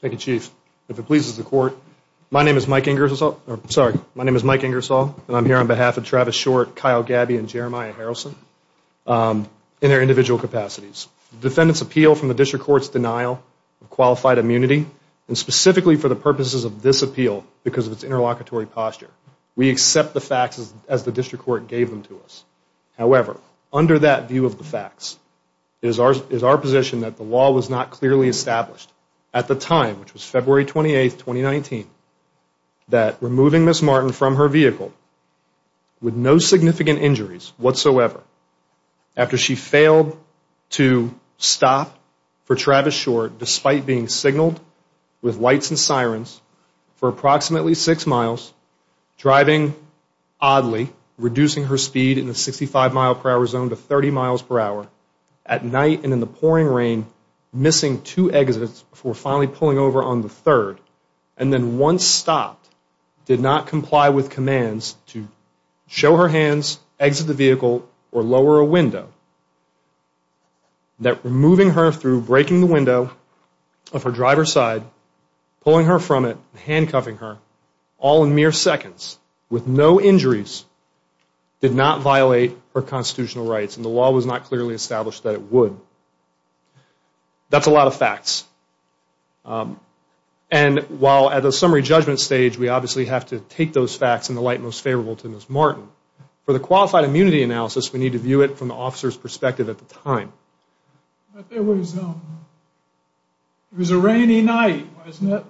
Thank you, Chief. If it pleases the Court, my name is Mike Ingersoll and I'm here on behalf of Travis Short, Kyle Gabby, and Jeremiah Harrelson in their individual capacities. Defendants appeal from the District Court's denial of qualified immunity and specifically for the purposes of this appeal because of its interlocutory posture. We accept the facts as the District Court gave them to us. However, under that view of the facts, it is our position that the law was not clearly established. At the time, which was February 28, 2019, that removing Ms. Martin from her vehicle with no significant injuries whatsoever after she failed to stop for Travis Short despite being signaled with lights and sirens for approximately six miles, driving oddly, reducing her speed in the 65 mph zone to 30 mph at night and in the pouring rain, missing two exits before finally pulling over on the third, and then once stopped, did not comply with commands to show her hands, exit the vehicle, or lower a window. That removing her through breaking the window of her driver's side, pulling her from it, and handcuffing her all in mere seconds with no injuries did not violate her constitutional rights and the law was not clearly established that it would. That's a lot of facts. And while at the summary judgment stage we obviously have to take those facts in the light most favorable to Ms. Martin, for the qualified immunity analysis we need to view it from the officer's perspective at the time. It was a rainy night, wasn't it?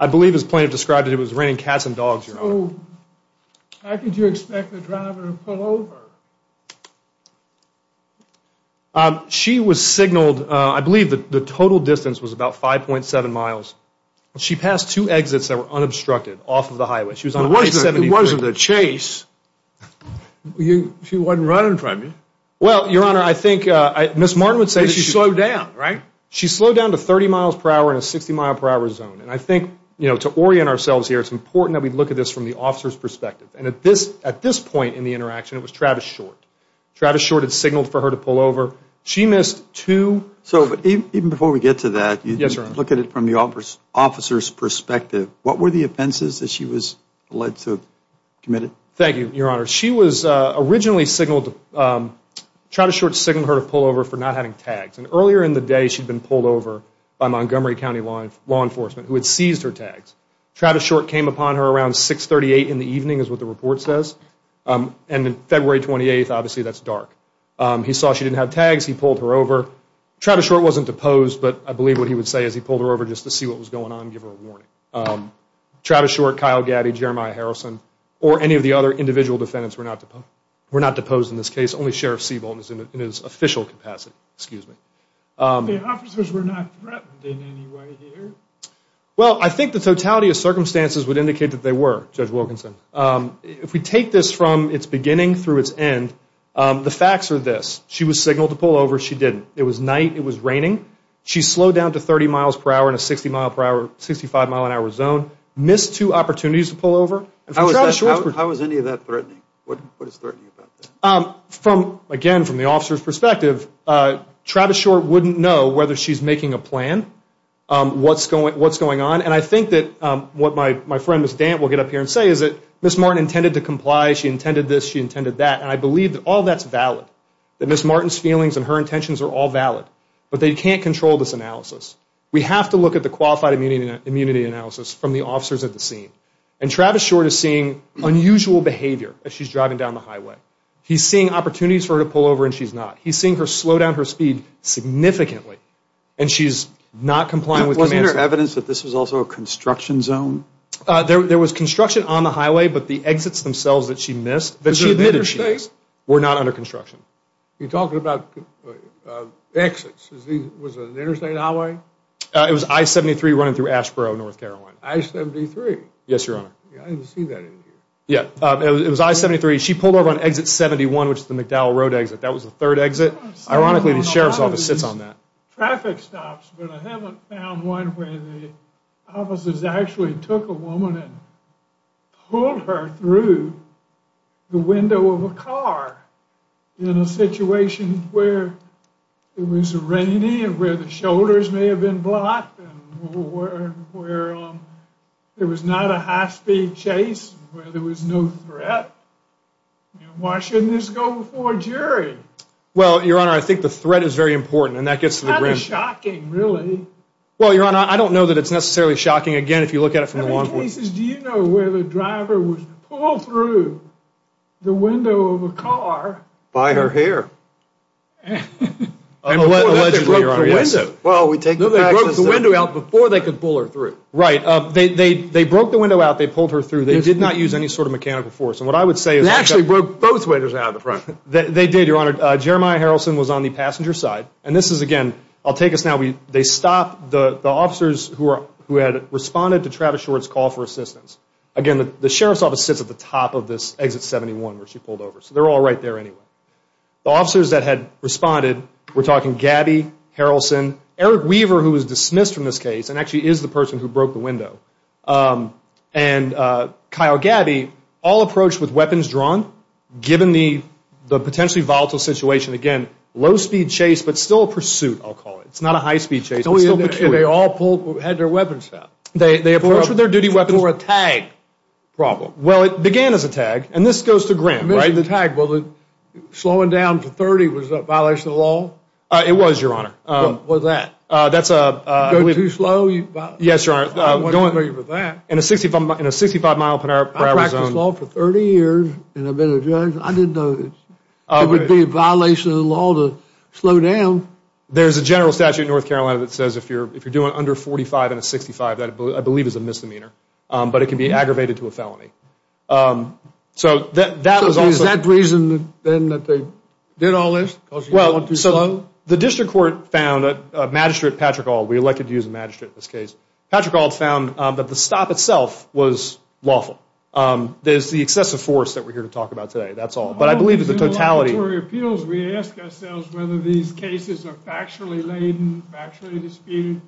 I believe his plaintiff described it as raining cats and dogs, Your Honor. How could you expect the driver to pull over? She was signaled, I believe the total distance was about 5.7 miles. She passed two exits that were unobstructed off of the highway. It wasn't a chase. She wasn't running from you. Well, Your Honor, I think Ms. Martin would say she slowed down, right? She slowed down to 30 miles per hour in a 60 mile per hour zone. And I think to orient ourselves here it's important that we look at this from the officer's perspective. And at this point in the interaction it was Travis Short. Travis Short had signaled for her to pull over. She missed two. So even before we get to that, look at it from the officer's perspective. What were the offenses that she was alleged to have committed? Thank you, Your Honor. She was originally signaled, Travis Short signaled her to pull over for not having tags. And earlier in the day she had been pulled over by Montgomery County law enforcement who had seized her tags. Travis Short came upon her around 6.38 in the evening is what the report says. And February 28th, obviously that's dark. He saw she didn't have tags. He pulled her over. Travis Short wasn't deposed, but I believe what he would say is he pulled her over just to see what was going on and give her a warning. Travis Short, Kyle Gaddy, Jeremiah Harrelson, or any of the other individual defendants were not deposed in this case. Only Sheriff Seabolt is in his official capacity. Excuse me. The officers were not threatened in any way here? Well, I think the totality of circumstances would indicate that they were, Judge Wilkinson. If we take this from its beginning through its end, the facts are this. She was signaled to pull over. She didn't. It was night. It was raining. She slowed down to 30 miles per hour in a 60-mile-per-hour, 65-mile-an-hour zone. Missed two opportunities to pull over. How is any of that threatening? What is threatening about that? Again, from the officer's perspective, Travis Short wouldn't know whether she's making a plan, what's going on. And I think that what my friend, Ms. Dant, will get up here and say is that Ms. Martin intended to comply. She intended this. She intended that. And I believe that all that's valid, that Ms. Martin's feelings and her intentions are all valid. But they can't control this analysis. We have to look at the qualified immunity analysis from the officers at the scene. And Travis Short is seeing unusual behavior as she's driving down the highway. He's seeing opportunities for her to pull over, and she's not. He's seeing her slow down her speed significantly. And she's not complying with commands. Wasn't there evidence that this was also a construction zone? There was construction on the highway, but the exits themselves that she missed, that she admitted she missed, were not under construction. You're talking about exits. Was it an interstate highway? It was I-73 running through Asheboro, North Carolina. I-73? Yes, Your Honor. I didn't see that in here. Yeah. It was I-73. She pulled over on exit 71, which is the McDowell Road exit. That was the third exit. Ironically, the sheriff's office sits on that. But I haven't found one where the officers actually took a woman and pulled her through the window of a car in a situation where it was raining and where the shoulders may have been blocked and where there was not a high-speed chase, where there was no threat. Why shouldn't this go before a jury? Well, Your Honor, I think the threat is very important. And that gets to the brim. It's kind of shocking, really. Well, Your Honor, I don't know that it's necessarily shocking. Again, if you look at it from the long view. In many cases, do you know where the driver was pulled through the window of a car? By her hair. Allegedly, Your Honor, yes. Well, we take the facts as they are. No, they broke the window out before they could pull her through. Right. They broke the window out. They pulled her through. They did not use any sort of mechanical force. And what I would say is they actually broke both windows out of the front. They did, Your Honor. Jeremiah Harrelson was on the passenger side. And this is, again, I'll take us now. They stopped the officers who had responded to Travis Short's call for assistance. Again, the Sheriff's Office sits at the top of this Exit 71 where she pulled over. So they're all right there anyway. The officers that had responded, we're talking Gabby Harrelson, Eric Weaver, who was dismissed from this case and actually is the person who broke the window, and Kyle Gabby, all approached with weapons drawn, given the potentially volatile situation. Again, low-speed chase, but still a pursuit, I'll call it. It's not a high-speed chase. It's still a pursuit. And they all had their weapons out. They approached with their duty weapons. For a tag problem. Well, it began as a tag. And this goes to Graham, right? I mentioned the tag. Well, slowing down to 30 was a violation of the law? It was, Your Honor. What was that? That's a – Going too slow? Yes, Your Honor. I wasn't familiar with that. In a 65-mile per hour zone. I practiced law for 30 years, and I've been a judge. I didn't know it would be a violation of the law to slow down. There's a general statute in North Carolina that says if you're doing under 45 in a 65, that I believe is a misdemeanor. But it can be aggravated to a felony. So that was also – So is that the reason, then, that they did all this? Because you're going too slow? Well, so the District Court found a magistrate, Patrick Auld, we elected to use a magistrate in this case. Patrick Auld found that the stop itself was lawful. There's the excessive force that we're here to talk about today. That's all. But I believe it's the totality. In the laboratory appeals, we ask ourselves whether these cases are factually laden, factually disputed,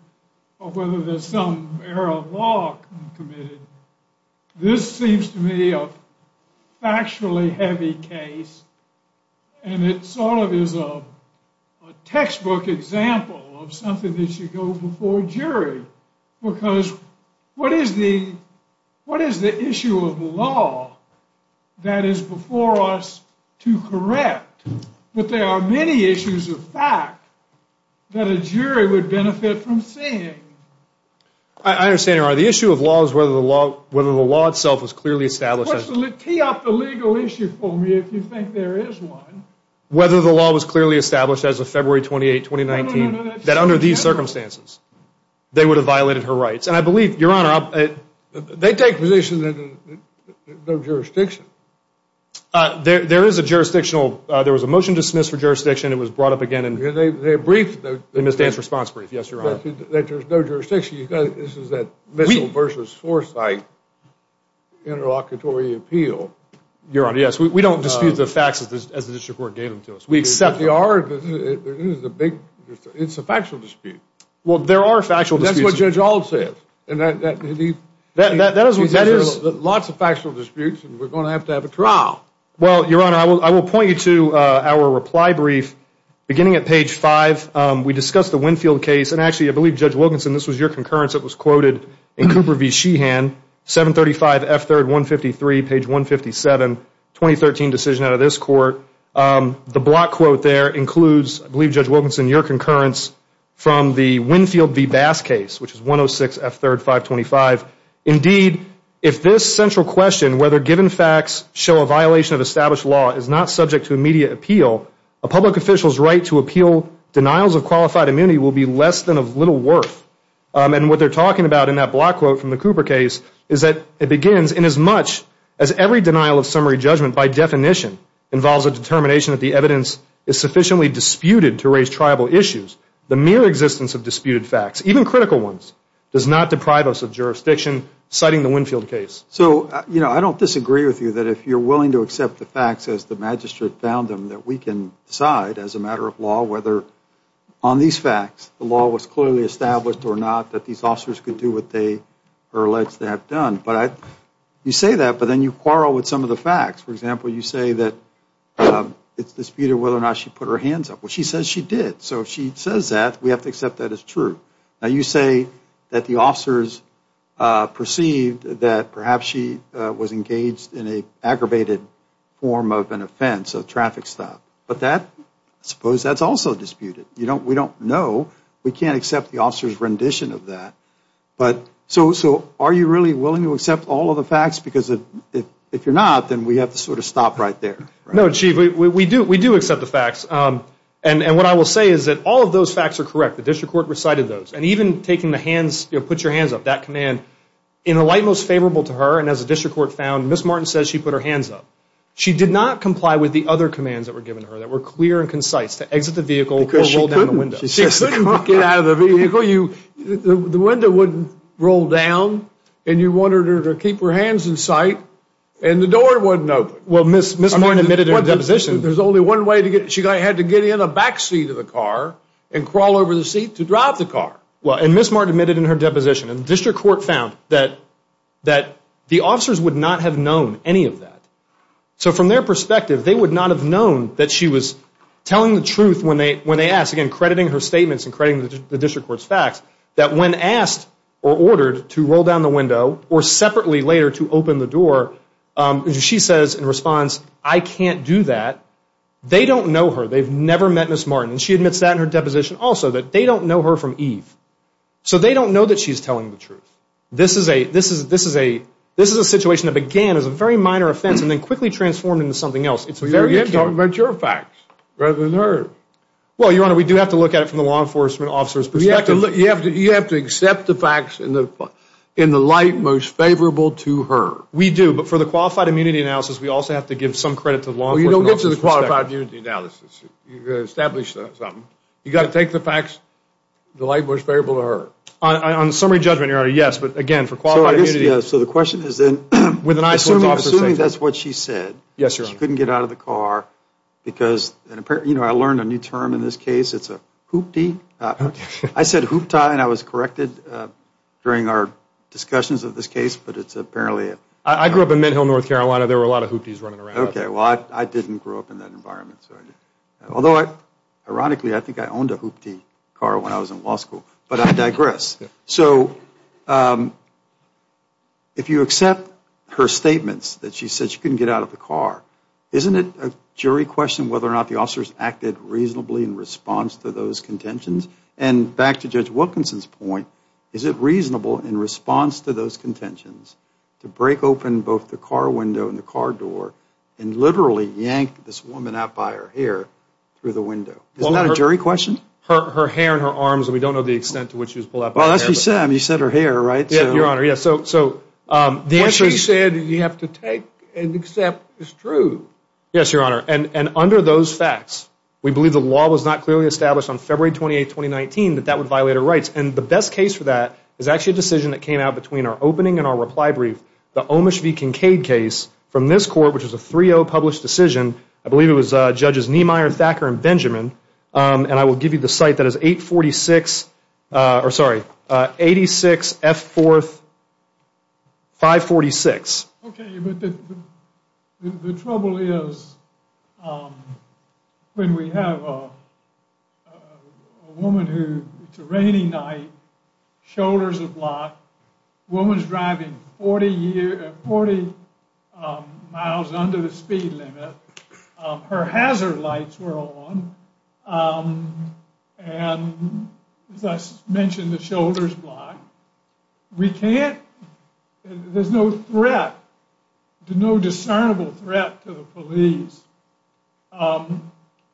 or whether there's some error of law committed. This seems to me a factually heavy case, and it sort of is a textbook example of something that should go before a jury. Because what is the issue of law that is before us to correct? But there are many issues of fact that a jury would benefit from seeing. I understand, Your Honor. The issue of law is whether the law itself is clearly established. Tee up the legal issue for me if you think there is one. Whether the law was clearly established as of February 28, 2019, that under these circumstances, they would have violated her rights. And I believe, Your Honor, they take position that there's no jurisdiction. There is a jurisdictional. There was a motion dismissed for jurisdiction. It was brought up again in Ms. Dan's response brief. Yes, Your Honor. That there's no jurisdiction. This is that Mitchell v. Forsythe interlocutory appeal. Your Honor, yes. We don't dispute the facts as the district court gave them to us. We accept them. It's a factual dispute. Well, there are factual disputes. That's what Judge Ault said. Lots of factual disputes, and we're going to have to have a trial. Well, Your Honor, I will point you to our reply brief. Beginning at page 5, we discussed the Winfield case. And actually, I believe, Judge Wilkinson, this was your concurrence. It was quoted in Cooper v. Sheehan, 735 F3rd 153, page 157, 2013 decision out of this court. The block quote there includes, I believe, Judge Wilkinson, your concurrence from the Winfield v. Bass case, which is 106 F3rd 525. Indeed, if this central question, whether given facts show a violation of established law, is not subject to immediate appeal, a public official's right to appeal denials of qualified immunity will be less than of little worth. And what they're talking about in that block quote from the Cooper case is that it begins, inasmuch as every denial of summary judgment by definition involves a determination that the evidence is sufficiently disputed to raise tribal issues, the mere existence of disputed facts, even critical ones, does not deprive us of jurisdiction, citing the Winfield case. So, you know, I don't disagree with you that if you're willing to accept the facts as the magistrate found them, that we can decide, as a matter of law, whether on these facts the law was clearly established or not, that these officers could do what they are alleged to have done. But you say that, but then you quarrel with some of the facts. For example, you say that it's disputed whether or not she put her hands up. Well, she says she did, so if she says that, we have to accept that as true. Now, you say that the officers perceived that perhaps she was engaged in an aggravated form of an offense, a traffic stop, but I suppose that's also disputed. We don't know. We can't accept the officer's rendition of that. So are you really willing to accept all of the facts? Because if you're not, then we have to sort of stop right there. No, Chief, we do accept the facts. And what I will say is that all of those facts are correct. The district court recited those. And even taking the hands, you know, put your hands up, that command, in a light most favorable to her, and as the district court found, Ms. Martin says she put her hands up. She did not comply with the other commands that were given to her that were clear and concise, to exit the vehicle or roll down the window. Because she couldn't. She couldn't get out of the vehicle. The window wouldn't roll down, and you wanted her to keep her hands in sight, and the door wouldn't open. Well, Ms. Martin admitted in her deposition. There's only one way to get in. She had to get in the back seat of the car and crawl over the seat to drive the car. Well, and Ms. Martin admitted in her deposition. And the district court found that the officers would not have known any of that. So from their perspective, they would not have known that she was telling the truth when they asked, again, crediting her statements and crediting the district court's facts, that when asked or ordered to roll down the window or separately later to open the door, she says in response, I can't do that. They don't know her. They've never met Ms. Martin. And she admits that in her deposition also, that they don't know her from Eve. So they don't know that she's telling the truth. This is a situation that began as a very minor offense and then quickly transformed into something else. You're talking about your facts rather than hers. Well, Your Honor, we do have to look at it from the law enforcement officer's perspective. You have to accept the facts in the light most favorable to her. We do, but for the qualified immunity analysis, we also have to give some credit to the law enforcement officer's perspective. You've established something. You've got to take the facts in the light most favorable to her. On summary judgment, Your Honor, yes. But, again, for qualified immunity. So the question is then, I'm assuming that's what she said. Yes, Your Honor. She couldn't get out of the car because, you know, I learned a new term in this case. It's a hooptie. I said hooptie and I was corrected during our discussions of this case, but it's apparently. I grew up in Mint Hill, North Carolina. There were a lot of hoopties running around. Okay. So I didn't grow up in that environment. Although, ironically, I think I owned a hooptie car when I was in law school, but I digress. So if you accept her statements that she said she couldn't get out of the car, isn't it a jury question whether or not the officers acted reasonably in response to those contentions? And back to Judge Wilkinson's point, is it reasonable in response to those contentions to break open both the car window and the car door and literally yank this woman out by her hair through the window? Isn't that a jury question? Her hair and her arms. We don't know the extent to which she was pulled out by her hair. Well, that's what you said. You said her hair, right? Yes, Your Honor. So the answer is. What she said you have to take and accept is true. Yes, Your Honor. And under those facts, we believe the law was not clearly established on February 28, 2019, that that would violate her rights. And the best case for that is actually a decision that came out between our opening and our reply brief, the Omish v. Kincaid case from this court, which is a 3-0 published decision. I believe it was Judges Niemeyer, Thacker, and Benjamin. And I will give you the cite. That is 846, or sorry, 86F4-546. Okay, but the trouble is when we have a woman who, it's a rainy night, shoulders are blocked, woman's driving 40 miles under the speed limit, her hazard lights were on, and as I mentioned, the shoulder's blocked. We can't, there's no threat, no discernible threat to the police.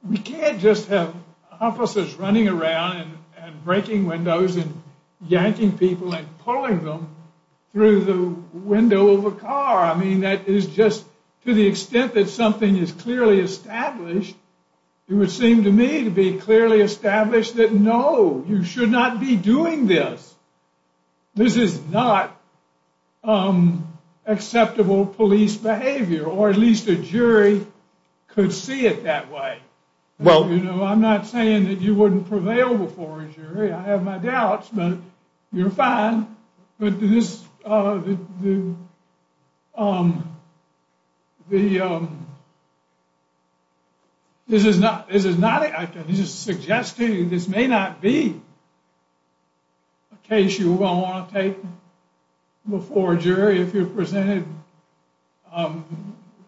We can't just have officers running around and breaking windows and yanking people and pulling them through the window of a car. I mean, that is just, to the extent that something is clearly established, it would seem to me to be clearly established that no, you should not be doing this. This is not acceptable police behavior, or at least a jury could see it that way. You know, I'm not saying that you wouldn't prevail before a jury. I have my doubts, but you're fine. But this is not, this is suggesting this may not be a case you're going to want to take before a jury if you're presented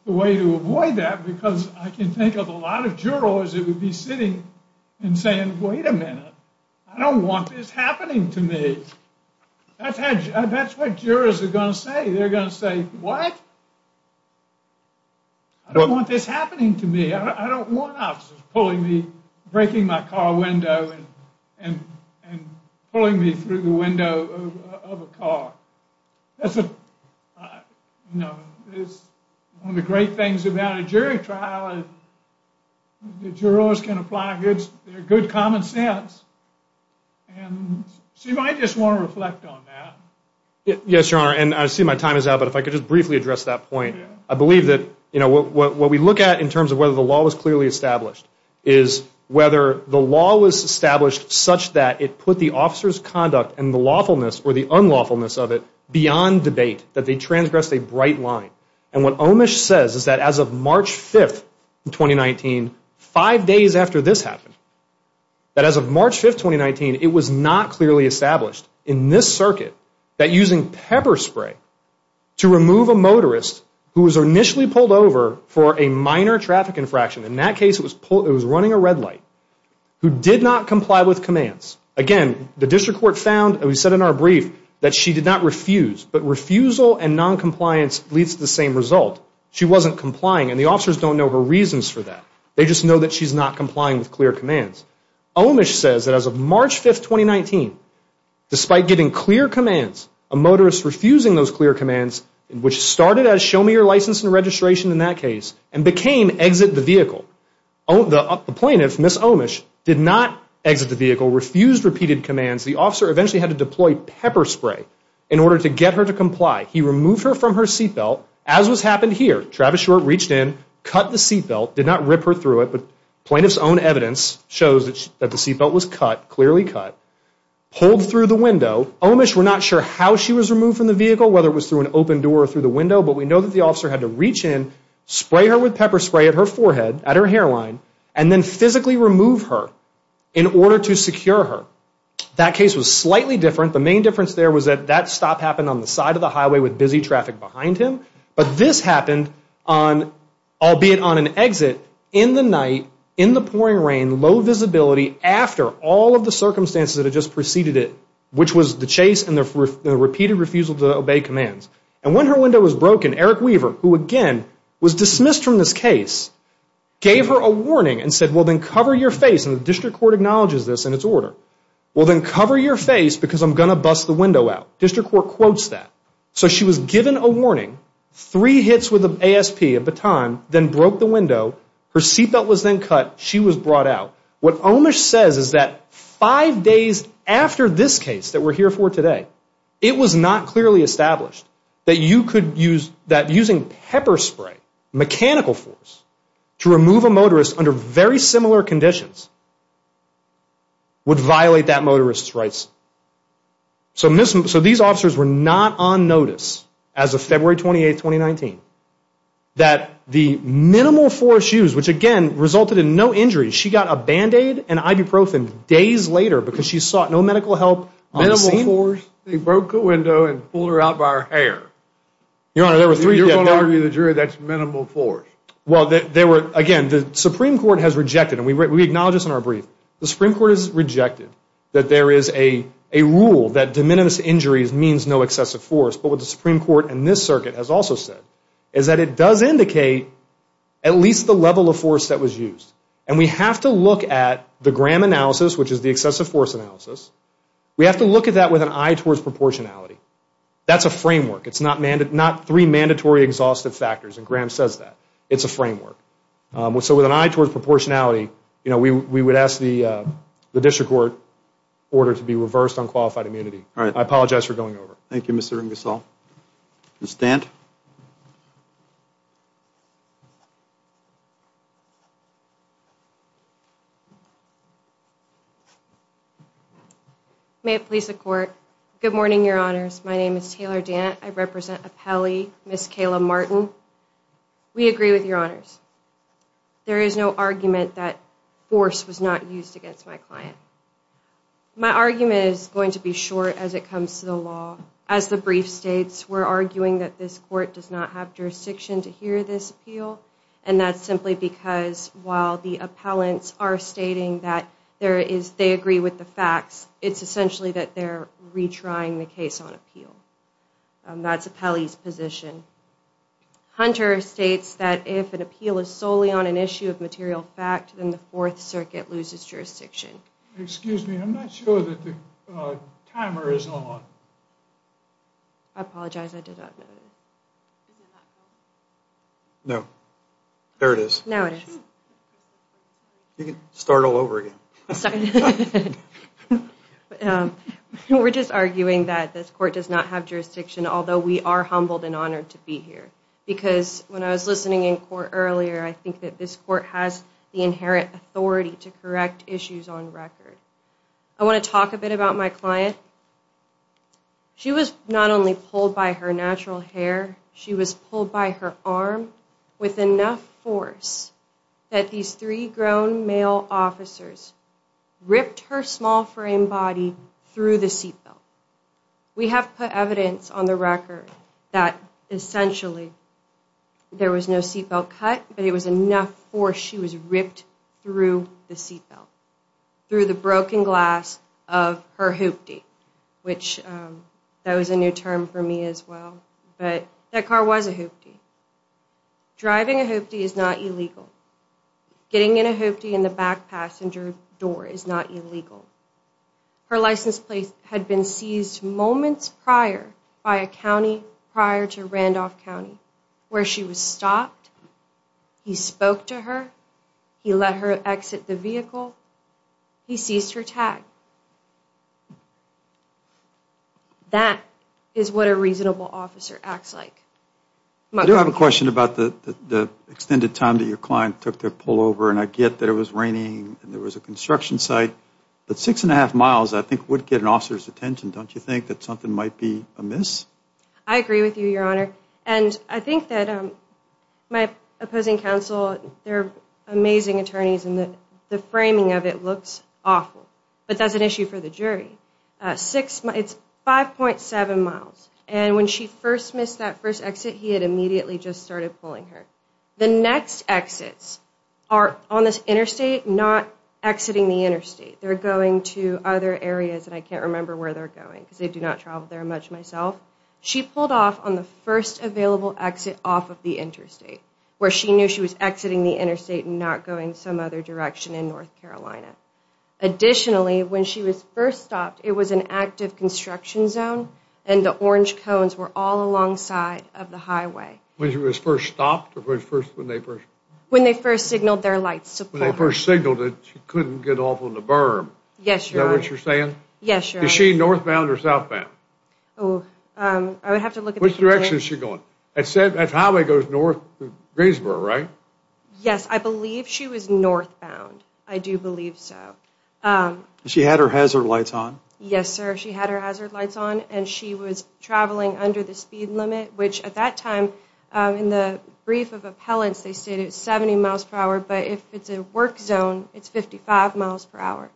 the way to avoid that, because I can think of a lot of jurors that would be sitting and saying, wait a minute, I don't want this happening to me. That's what jurors are going to say. They're going to say, what? I don't want this happening to me. I don't want officers pulling me, breaking my car window and pulling me through the window of a car. That's one of the great things about a jury trial. The jurors can apply their good common sense. So you might just want to reflect on that. Yes, Your Honor, and I see my time is out, but if I could just briefly address that point. I believe that what we look at in terms of whether the law was clearly established is whether the law was established such that it put the officer's conduct and the lawfulness or the unlawfulness of it beyond debate, that they transgressed a bright line. And what Omish says is that as of March 5th, 2019, five days after this happened, that as of March 5th, 2019, it was not clearly established in this circuit that using pepper spray to remove a motorist who was initially pulled over for a minor traffic infraction, in that case it was running a red light, who did not comply with commands. Again, the district court found, and we said in our brief, that she did not refuse. But refusal and noncompliance leads to the same result. She wasn't complying, and the officers don't know her reasons for that. They just know that she's not complying with clear commands. Omish says that as of March 5th, 2019, despite giving clear commands, a motorist refusing those clear commands, which started as show me your license and registration in that case, and became exit the vehicle. The plaintiff, Ms. Omish, did not exit the vehicle, refused repeated commands. The officer eventually had to deploy pepper spray in order to get her to comply. He removed her from her seatbelt, as was happened here. Travis Short reached in, cut the seatbelt, did not rip her through it, but plaintiff's own evidence shows that the seatbelt was cut, clearly cut. Pulled through the window. Omish, we're not sure how she was removed from the vehicle, whether it was through an open door or through the window, but we know that the officer had to reach in, spray her with pepper spray at her forehead, at her hairline, and then physically remove her in order to secure her. That case was slightly different. The main difference there was that that stop happened on the side of the highway with busy traffic behind him, but this happened on, albeit on an exit, in the night, in the pouring rain, low visibility after all of the circumstances that had just preceded it, which was the chase and the repeated refusal to obey commands. And when her window was broken, Eric Weaver, who again was dismissed from this case, gave her a warning and said, well, then cover your face, and the district court acknowledges this in its order, well, then cover your face because I'm going to bust the window out. District court quotes that. So she was given a warning, three hits with an ASP, a baton, then broke the window. Her seatbelt was then cut. She was brought out. What Omish says is that five days after this case that we're here for today, it was not clearly established that using pepper spray, mechanical force, to remove a motorist under very similar conditions would violate that motorist's rights. So these officers were not on notice as of February 28, 2019, that the minimal force used, which again resulted in no injuries, she got a Band-Aid and ibuprofen days later because she sought no medical help on the scene. Minimal force? They broke the window and pulled her out by her hair. Your Honor, there were three different things. You're going to argue to the jury that's minimal force. Well, again, the Supreme Court has rejected, and we acknowledge this in our brief, the Supreme Court has rejected that there is a rule that de minimis injuries means no excessive force, but what the Supreme Court in this circuit has also said is that it does indicate at least the level of force that was used, and we have to look at the Graham analysis, which is the excessive force analysis. We have to look at that with an eye towards proportionality. That's a framework. It's not three mandatory exhaustive factors, and Graham says that. It's a framework. So with an eye towards proportionality, you know, we would ask the district court order to be reversed on qualified immunity. All right. I apologize for going over. Thank you, Mr. Ingersoll. Ms. Stant? May it please the court. Good morning, Your Honors. My name is Taylor Dant. I represent appellee Ms. Kayla Martin. We agree with Your Honors. There is no argument that force was not used against my client. My argument is going to be short as it comes to the law. As the brief states, we're arguing that this court does not have jurisdiction to hear this appeal, and that's simply because while the appellants are stating that they agree with the facts, it's essentially that they're retrying the case on appeal. That's appellee's position. Hunter states that if an appeal is solely on an issue of material fact, then the Fourth Circuit loses jurisdiction. Excuse me. I'm not sure that the timer is on. I apologize. I did not know that. No. There it is. Now it is. You can start all over again. We're just arguing that this court does not have jurisdiction, although we are humbled and honored to be here because when I was listening in court earlier, I think that this court has the inherent authority to correct issues on record. I want to talk a bit about my client. She was not only pulled by her natural hair. She was pulled by her arm with enough force that these three grown male officers ripped her small frame body through the seatbelt. We have put evidence on the record that essentially there was no seatbelt cut, but it was enough force. She was ripped through the seatbelt, through the broken glass of her hoopty, which that was a new term for me as well, but that car was a hoopty. Driving a hoopty is not illegal. Getting in a hoopty in the back passenger door is not illegal. Her license plate had been seized moments prior by a county prior to Randolph County where she was stopped. He let her exit the vehicle. He seized her tag. That is what a reasonable officer acts like. I do have a question about the extended time that your client took to pull over, and I get that it was raining and there was a construction site, but six and a half miles I think would get an officer's attention. Don't you think that something might be amiss? I agree with you, Your Honor, and I think that my opposing counsel, they're amazing attorneys, and the framing of it looks awful, but that's an issue for the jury. It's 5.7 miles, and when she first missed that first exit, he had immediately just started pulling her. The next exits are on this interstate, not exiting the interstate. They're going to other areas, and I can't remember where they're going because I do not travel there much myself. She pulled off on the first available exit off of the interstate where she knew she was exiting the interstate and not going some other direction in North Carolina. Additionally, when she was first stopped, it was an active construction zone, and the orange cones were all alongside of the highway. When she was first stopped or when they first? When they first signaled their lights to pull her. When they first signaled it, she couldn't get off on the berm. Yes, Your Honor. Is that what you're saying? Yes, Your Honor. Is she northbound or southbound? I would have to look at the computer. Which direction is she going? I said that highway goes north to Greensboro, right? Yes. I believe she was northbound. I do believe so. She had her hazard lights on? Yes, sir. She had her hazard lights on, and she was traveling under the speed limit, which at that time, in the brief of appellants, they stated 70 miles per hour, but if it's a work zone, it's 55 miles per hour.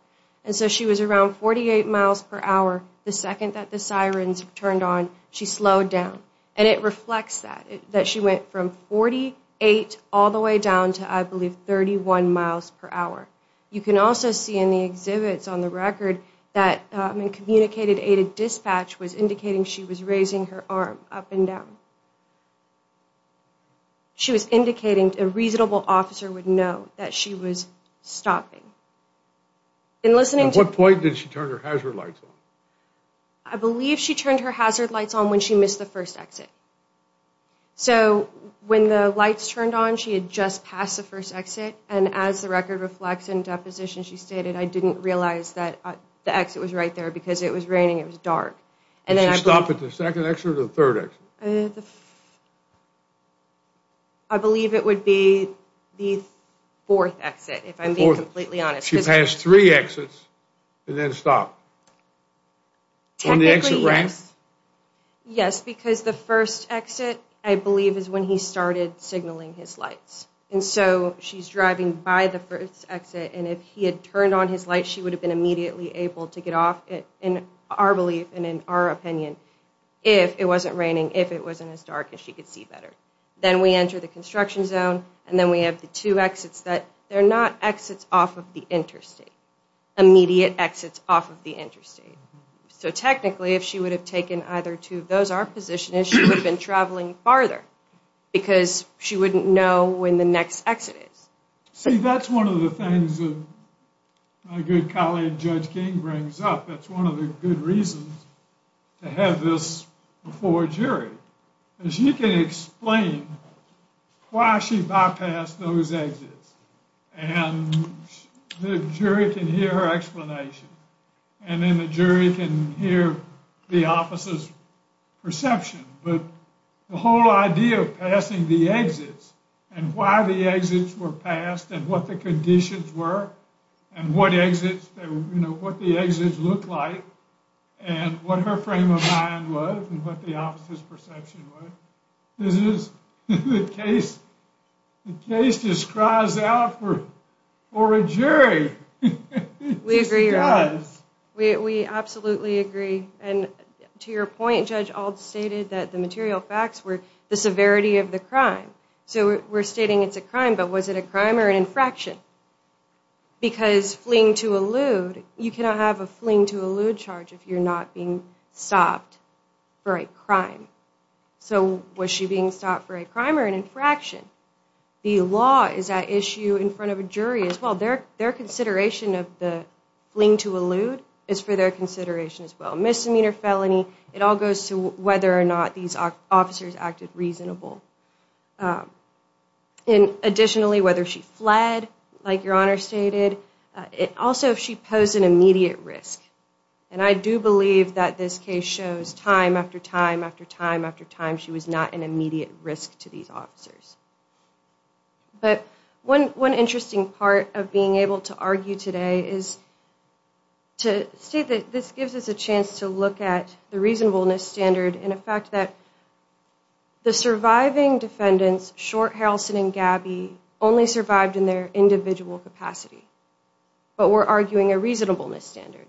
And so she was around 48 miles per hour the second that the sirens turned on. She slowed down. And it reflects that, that she went from 48 all the way down to, I believe, 31 miles per hour. You can also see in the exhibits on the record that a communicated aid dispatch was indicating she was raising her arm up and down. She was indicating a reasonable officer would know that she was stopping. At what point did she turn her hazard lights on? I believe she turned her hazard lights on when she missed the first exit. So when the lights turned on, she had just passed the first exit, and as the record reflects in deposition, she stated, I didn't realize that the exit was right there because it was raining, it was dark. Did she stop at the second exit or the third exit? I believe it would be the fourth exit, if I'm being completely honest. She passed three exits and then stopped. Technically, yes. On the exit ramp? Yes, because the first exit, I believe, is when he started signaling his lights. And so she's driving by the first exit, and if he had turned on his lights, she would have been immediately able to get off, in our belief and in our opinion, if it wasn't raining, if it wasn't as dark, and she could see better. Then we enter the construction zone, and then we have the two exits that are not exits off of the interstate, immediate exits off of the interstate. So technically, if she would have taken either two of those, our position is she would have been traveling farther because she wouldn't know when the next exit is. See, that's one of the things that my good colleague Judge King brings up. She can explain why she bypassed those exits, and the jury can hear her explanation, and then the jury can hear the officer's perception. But the whole idea of passing the exits and why the exits were passed and what the conditions were and what the exits looked like and what her frame of mind was and what the officer's perception was, this is the case. The case just cries out for a jury. It just does. We agree. We absolutely agree. And to your point, Judge Ault stated that the material facts were the severity of the crime. So we're stating it's a crime, but was it a crime or an infraction? Because fleeing to elude, you cannot have a fleeing to elude charge if you're not being stopped for a crime. So was she being stopped for a crime or an infraction? The law is at issue in front of a jury as well. Their consideration of the fleeing to elude is for their consideration as well. Misdemeanor felony, it all goes to whether or not these officers acted reasonable. Additionally, whether she fled, like Your Honor stated. Also, if she posed an immediate risk. And I do believe that this case shows time after time after time after time she was not an immediate risk to these officers. But one interesting part of being able to argue today is to state that this gives us a chance to look at the reasonableness standard in effect that the surviving defendants, Short, Harrelson, and Gabby, only survived in their individual capacity. But we're arguing a reasonableness standard.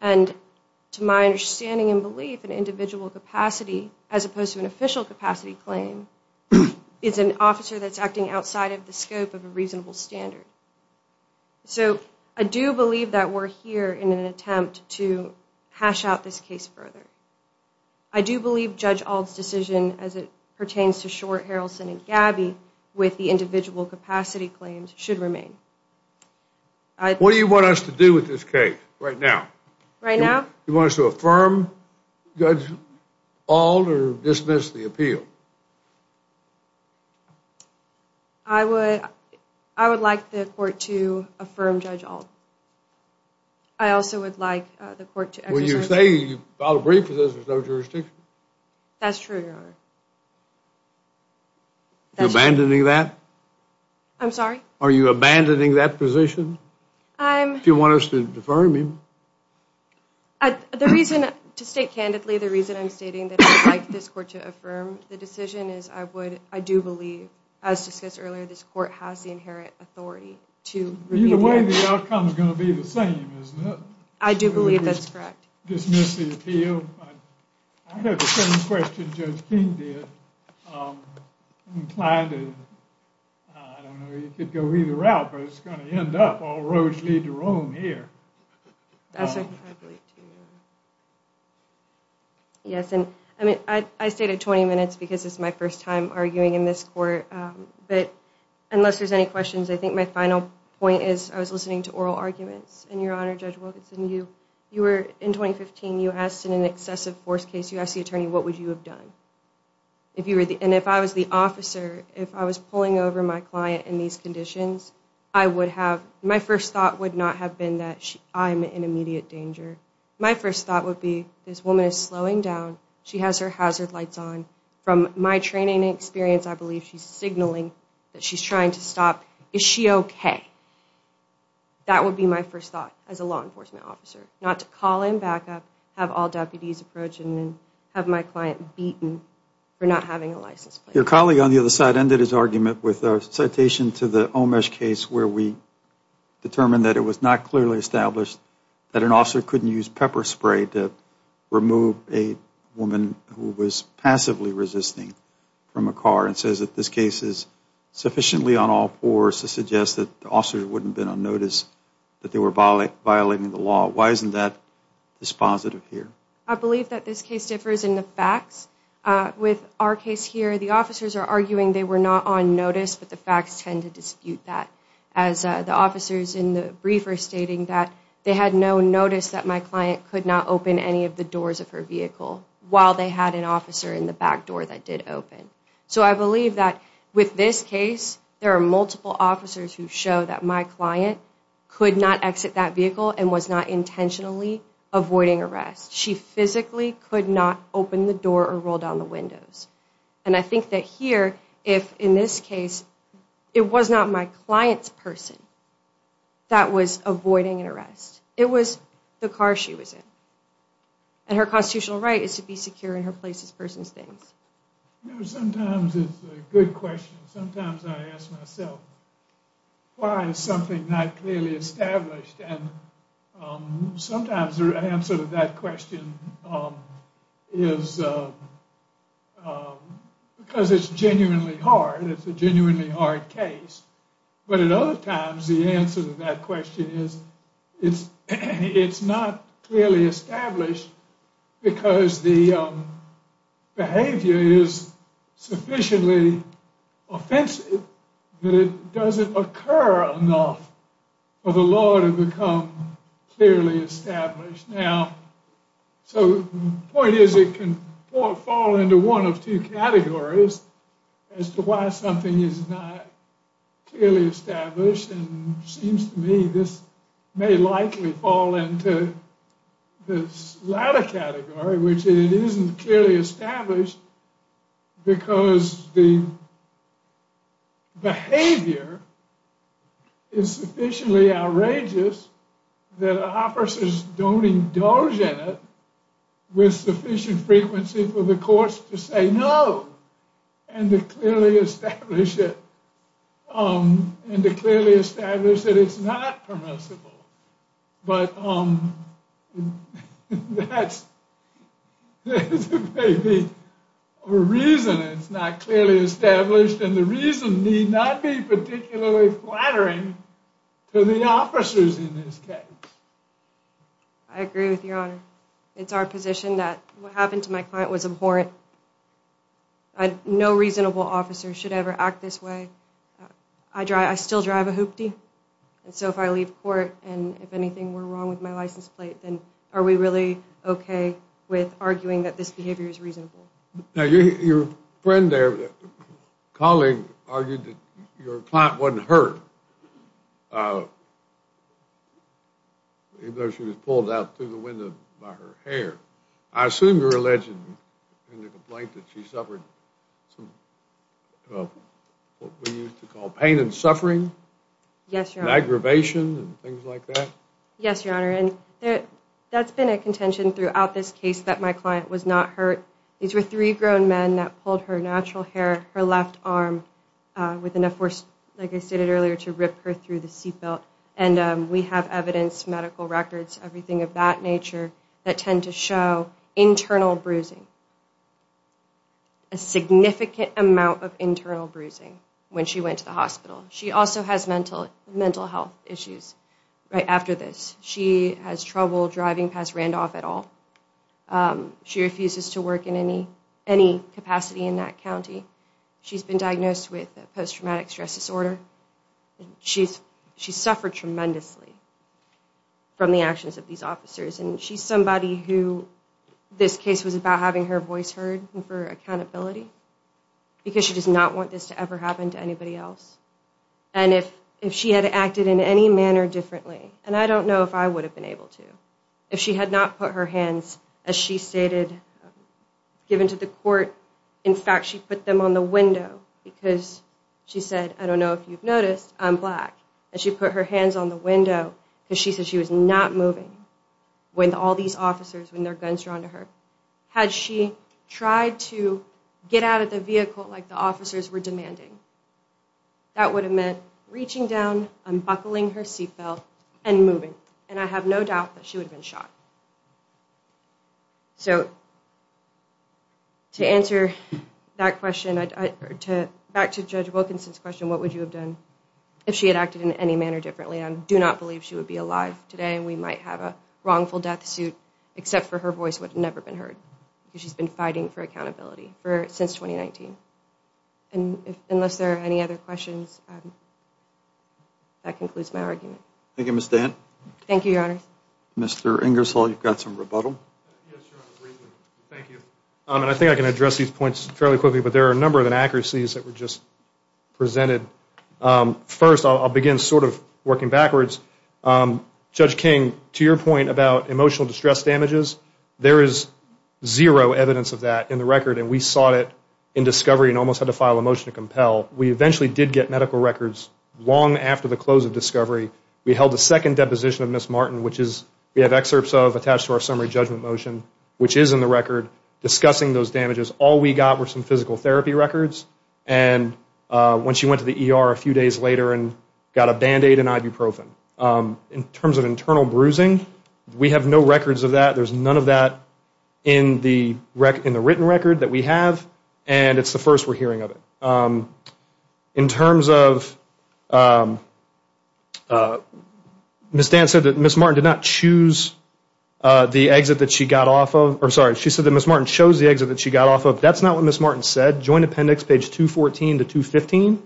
And to my understanding and belief, an individual capacity, as opposed to an official capacity claim, is an officer that's acting outside of the scope of a reasonable standard. So I do believe that we're here in an attempt to hash out this case further. I do believe Judge Auld's decision as it pertains to Short, Harrelson, and Gabby with the individual capacity claims should remain. What do you want us to do with this case right now? Right now? Do you want us to affirm Judge Auld or dismiss the appeal? I would like the court to affirm Judge Auld. I also would like the court to exercise Well, you say you filed a brief because there's no jurisdiction. That's true, Your Honor. You're abandoning that? I'm sorry? Are you abandoning that position? I'm Do you want us to affirm him? The reason, to state candidly, the reason I'm stating that I would like this court to affirm the decision is I would, I do believe, as discussed earlier, this court has the inherent authority to Either way, the outcome is going to be the same, isn't it? I do believe that's correct. Dismiss the appeal. I have the same question Judge King did. I'm inclined to, I don't know, you could go either route, but it's going to end up all roguishly to Rome here. That's exactly true, Your Honor. Yes, and I mean, I stayed at 20 minutes because it's my first time arguing in this court. But unless there's any questions, I think my final point is I was listening to oral arguments. And Your Honor, Judge Wilkinson, you were, in 2015, you asked in an excessive force case, you asked the attorney, what would you have done? And if I was the officer, if I was pulling over my client in these conditions, I would have, my first thought would not have been that I'm in immediate danger. My first thought would be, this woman is slowing down. She has her hazard lights on. From my training and experience, I believe she's signaling that she's trying to stop. Is she okay? That would be my first thought as a law enforcement officer, not to call in backup, have all deputies approach, and then have my client beaten for not having a license plate. Your colleague on the other side ended his argument with a citation to the Omesh case where we determined that it was not clearly established that an officer couldn't use pepper spray to remove a woman who was passively resisting from a car, and says that this case is sufficiently on all fours to suggest that the officer wouldn't have been on notice that they were violating the law. Why isn't that dispositive here? With our case here, the officers are arguing they were not on notice, but the facts tend to dispute that. As the officers in the brief are stating that they had no notice that my client could not open any of the doors of her vehicle while they had an officer in the back door that did open. So I believe that with this case, there are multiple officers who show that my client could not exit that vehicle and was not intentionally avoiding arrest. She physically could not open the door or roll down the windows. And I think that here, if in this case, it was not my client's person that was avoiding an arrest. It was the car she was in. And her constitutional right is to be secure in her place as persons things. Sometimes it's a good question. Sometimes I ask myself, why is something not clearly established? And sometimes the answer to that question is because it's genuinely hard. It's a genuinely hard case. But at other times, the answer to that question is it's not clearly established because the behavior is sufficiently offensive that it doesn't occur enough for the law to become clearly established. Now, so the point is it can fall into one of two categories as to why something is not clearly established. And it seems to me this may likely fall into this latter category, which it isn't clearly established because the behavior is sufficiently outrageous that officers don't indulge in it with sufficient frequency for the courts to say no. And to clearly establish that it's not permissible. But that's maybe a reason it's not clearly established. And the reason need not be particularly flattering to the officers in this case. It's our position that what happened to my client was abhorrent. No reasonable officer should ever act this way. I still drive a hoopty. And so if I leave court and if anything were wrong with my license plate, then are we really okay with arguing that this behavior is reasonable? Now, your friend there, colleague, argued that your client wasn't hurt. Even though she was pulled out through the window by her hair. I assume you're alleging in the complaint that she suffered what we used to call pain and suffering? Yes, Your Honor. And aggravation and things like that? Yes, Your Honor. And that's been a contention throughout this case that my client was not hurt. These were three grown men that pulled her natural hair, her left arm with enough force, like I stated earlier, to rip her through the seat belt. And we have evidence, medical records, everything of that nature that tend to show internal bruising. A significant amount of internal bruising when she went to the hospital. She also has mental health issues right after this. She has trouble driving past Randolph at all. She refuses to work in any capacity in that county. She's been diagnosed with post-traumatic stress disorder. She's suffered tremendously from the actions of these officers. And she's somebody who this case was about having her voice heard and for accountability. Because she does not want this to ever happen to anybody else. And if she had acted in any manner differently, and I don't know if I would have been able to, if she had not put her hands, as she stated, given to the court. In fact, she put them on the window because she said, I don't know if you've noticed, I'm black. And she put her hands on the window because she said she was not moving. With all these officers, with their guns drawn to her. Had she tried to get out of the vehicle like the officers were demanding, that would have meant reaching down, unbuckling her seat belt, and moving. And I have no doubt that she would have been shot. So, to answer that question, back to Judge Wilkinson's question, what would you have done if she had acted in any manner differently? I do not believe she would be alive today. We might have a wrongful death suit, except for her voice would have never been heard. Because she's been fighting for accountability since 2019. And unless there are any other questions, that concludes my argument. Thank you, Ms. Dann. Thank you, Your Honor. Mr. Ingersoll, you've got some rebuttal. Yes, Your Honor, briefly. Thank you. I think I can address these points fairly quickly, but there are a number of inaccuracies that were just presented. First, I'll begin sort of working backwards. Judge King, to your point about emotional distress damages, there is zero evidence of that in the record, and we sought it in discovery and almost had to file a motion to compel. We eventually did get medical records long after the close of discovery. We held a second deposition of Ms. Martin, which we have excerpts of attached to our summary judgment motion, which is in the record discussing those damages. All we got were some physical therapy records. And when she went to the ER a few days later and got a Band-Aid and ibuprofen. In terms of internal bruising, we have no records of that. There's none of that in the written record that we have, and it's the first we're hearing of it. In terms of Ms. Dann said that Ms. Martin did not choose the exit that she got off of. I'm sorry. She said that Ms. Martin chose the exit that she got off of. That's not what Ms. Martin said. Joint appendix, page 214 to 215,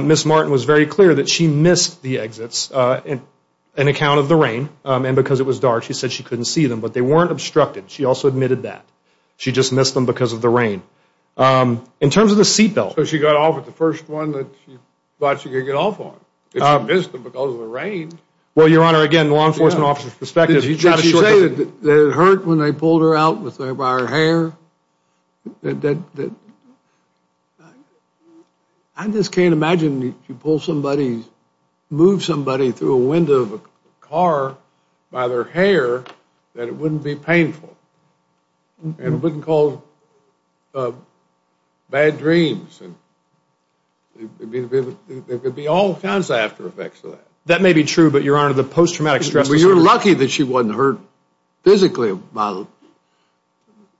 Ms. Martin was very clear that she missed the exits in account of the rain and because it was dark. She said she couldn't see them, but they weren't obstructed. She also admitted that. She just missed them because of the rain. In terms of the seat belt. So she got off at the first one that she thought she could get off on. She missed them because of the rain. Well, Your Honor, again, law enforcement officer's perspective. Did she say that it hurt when they pulled her out by her hair? I just can't imagine that you pull somebody, move somebody through a window of a car by their hair, that it wouldn't be painful and wouldn't cause bad dreams. There could be all kinds of after effects of that. That may be true, but Your Honor, the post-traumatic stress disorder. Well, you're lucky that she wasn't hurt physically by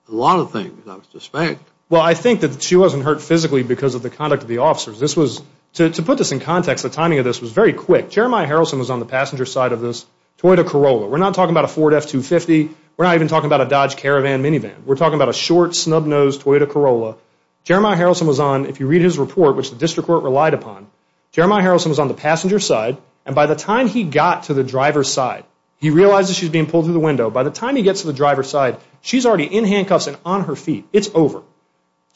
a lot of things, I suspect. Well, I think that she wasn't hurt physically because of the conduct of the officers. This was, to put this in context, the timing of this was very quick. Jeremiah Harrelson was on the passenger side of this Toyota Corolla. We're not talking about a Ford F-250. We're not even talking about a Dodge Caravan minivan. We're talking about a short, snub-nosed Toyota Corolla. Jeremiah Harrelson was on, if you read his report, which the district court relied upon, Jeremiah Harrelson was on the passenger side, and by the time he got to the driver's side, he realizes she's being pulled through the window. By the time he gets to the driver's side, she's already in handcuffs and on her feet. It's over.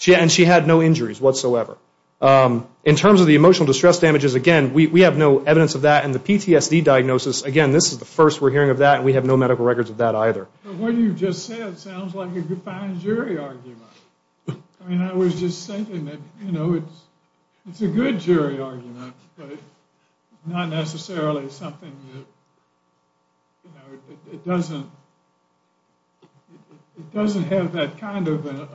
And she had no injuries whatsoever. In terms of the emotional distress damages, again, we have no evidence of that. And the PTSD diagnosis, again, this is the first we're hearing of that, and we have no medical records of that either. What you just said sounds like a fine jury argument. I mean, I was just thinking that, you know, it's a good jury argument, but not necessarily something that, you know, it doesn't have that kind of an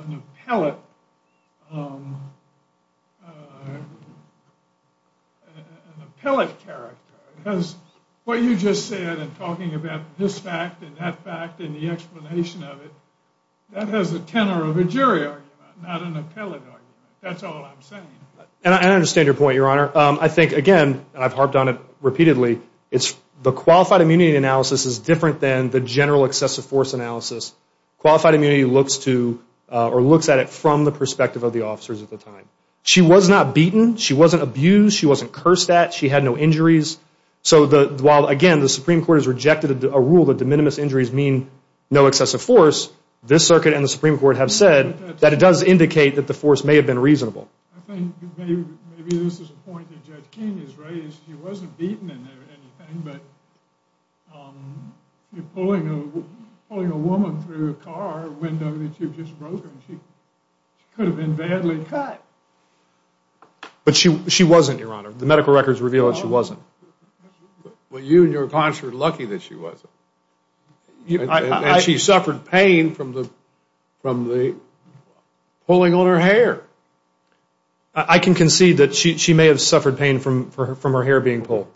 appellate character. Because what you just said in talking about this fact and that fact and the explanation of it, that has the tenor of a jury argument, not an appellate argument. That's all I'm saying. And I understand your point, Your Honor. I think, again, and I've harped on it repeatedly, the qualified immunity analysis is different than the general excessive force analysis. Qualified immunity looks to or looks at it from the perspective of the officers at the time. She was not beaten. She wasn't abused. She wasn't cursed at. She had no injuries. So while, again, the Supreme Court has rejected a rule that de minimis injuries mean no excessive force, this circuit and the Supreme Court have said that it does indicate that the force may have been reasonable. I think maybe this is a point that Judge King has raised. She wasn't beaten or anything, but pulling a woman through a car window that she had just broken, she could have been badly cut. But she wasn't, Your Honor. The medical records reveal that she wasn't. Well, you and your cons were lucky that she wasn't. And she suffered pain from the pulling on her hair. I can concede that she may have suffered pain from her hair being pulled.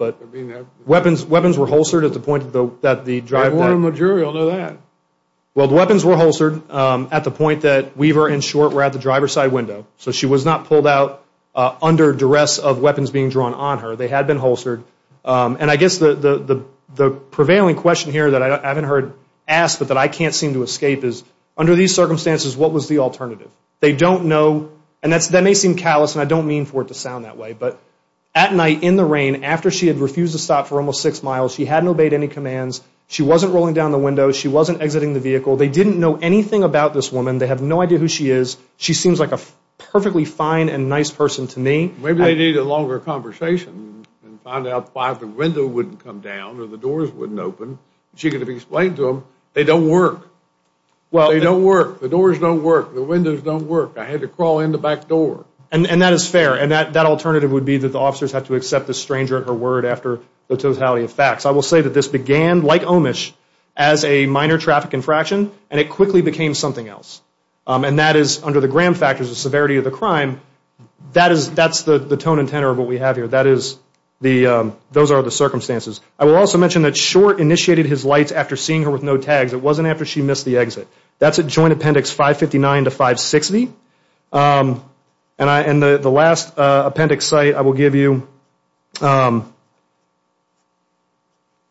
Weapons were holstered at the point that the driver... I want a majority on that. Well, the weapons were holstered at the point that Weaver and Short were at the driver's side window. So she was not pulled out under duress of weapons being drawn on her. They had been holstered. And I guess the prevailing question here that I haven't heard asked but that I can't seem to escape is, under these circumstances, what was the alternative? They don't know, and that may seem callous, and I don't mean for it to sound that way, but at night in the rain after she had refused to stop for almost six miles, she hadn't obeyed any commands, she wasn't rolling down the window, she wasn't exiting the vehicle. They didn't know anything about this woman. They have no idea who she is. She seems like a perfectly fine and nice person to me. Maybe they need a longer conversation and find out why the window wouldn't come down or the doors wouldn't open. She could have explained to them, they don't work. They don't work. The doors don't work. The windows don't work. I had to crawl in the back door. And that is fair. And that alternative would be that the officers have to accept the stranger at her word after the totality of facts. I will say that this began, like Omish, as a minor traffic infraction, and it quickly became something else. And that is under the gram factors, the severity of the crime, that's the tone and tenor of what we have here. Those are the circumstances. I will also mention that Short initiated his lights after seeing her with no tags. It wasn't after she missed the exit. That's at Joint Appendix 559 to 560. And the last appendix site I will give you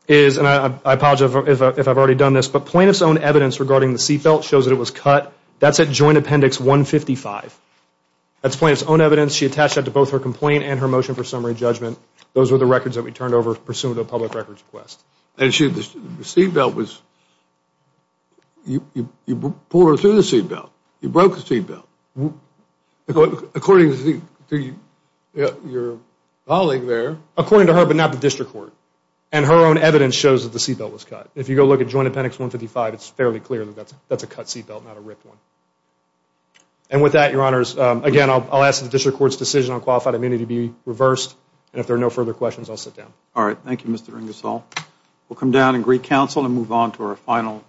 is, and I apologize if I've already done this, but plaintiff's own evidence regarding the seatbelt shows that it was cut. That's at Joint Appendix 155. That's plaintiff's own evidence. She attached that to both her complaint and her motion for summary judgment. Those are the records that we turned over pursuant to a public records request. And the seatbelt was, you pulled her through the seatbelt. You broke the seatbelt. According to your colleague there. According to her, but not the district court. And her own evidence shows that the seatbelt was cut. If you go look at Joint Appendix 155, it's fairly clear that that's a cut seatbelt, not a ripped one. And with that, your honors, again, I'll ask that the district court's decision on qualified immunity be reversed. And if there are no further questions, I'll sit down. All right. Thank you, Mr. Ingersoll. We'll come down and greet counsel and move on to our final case.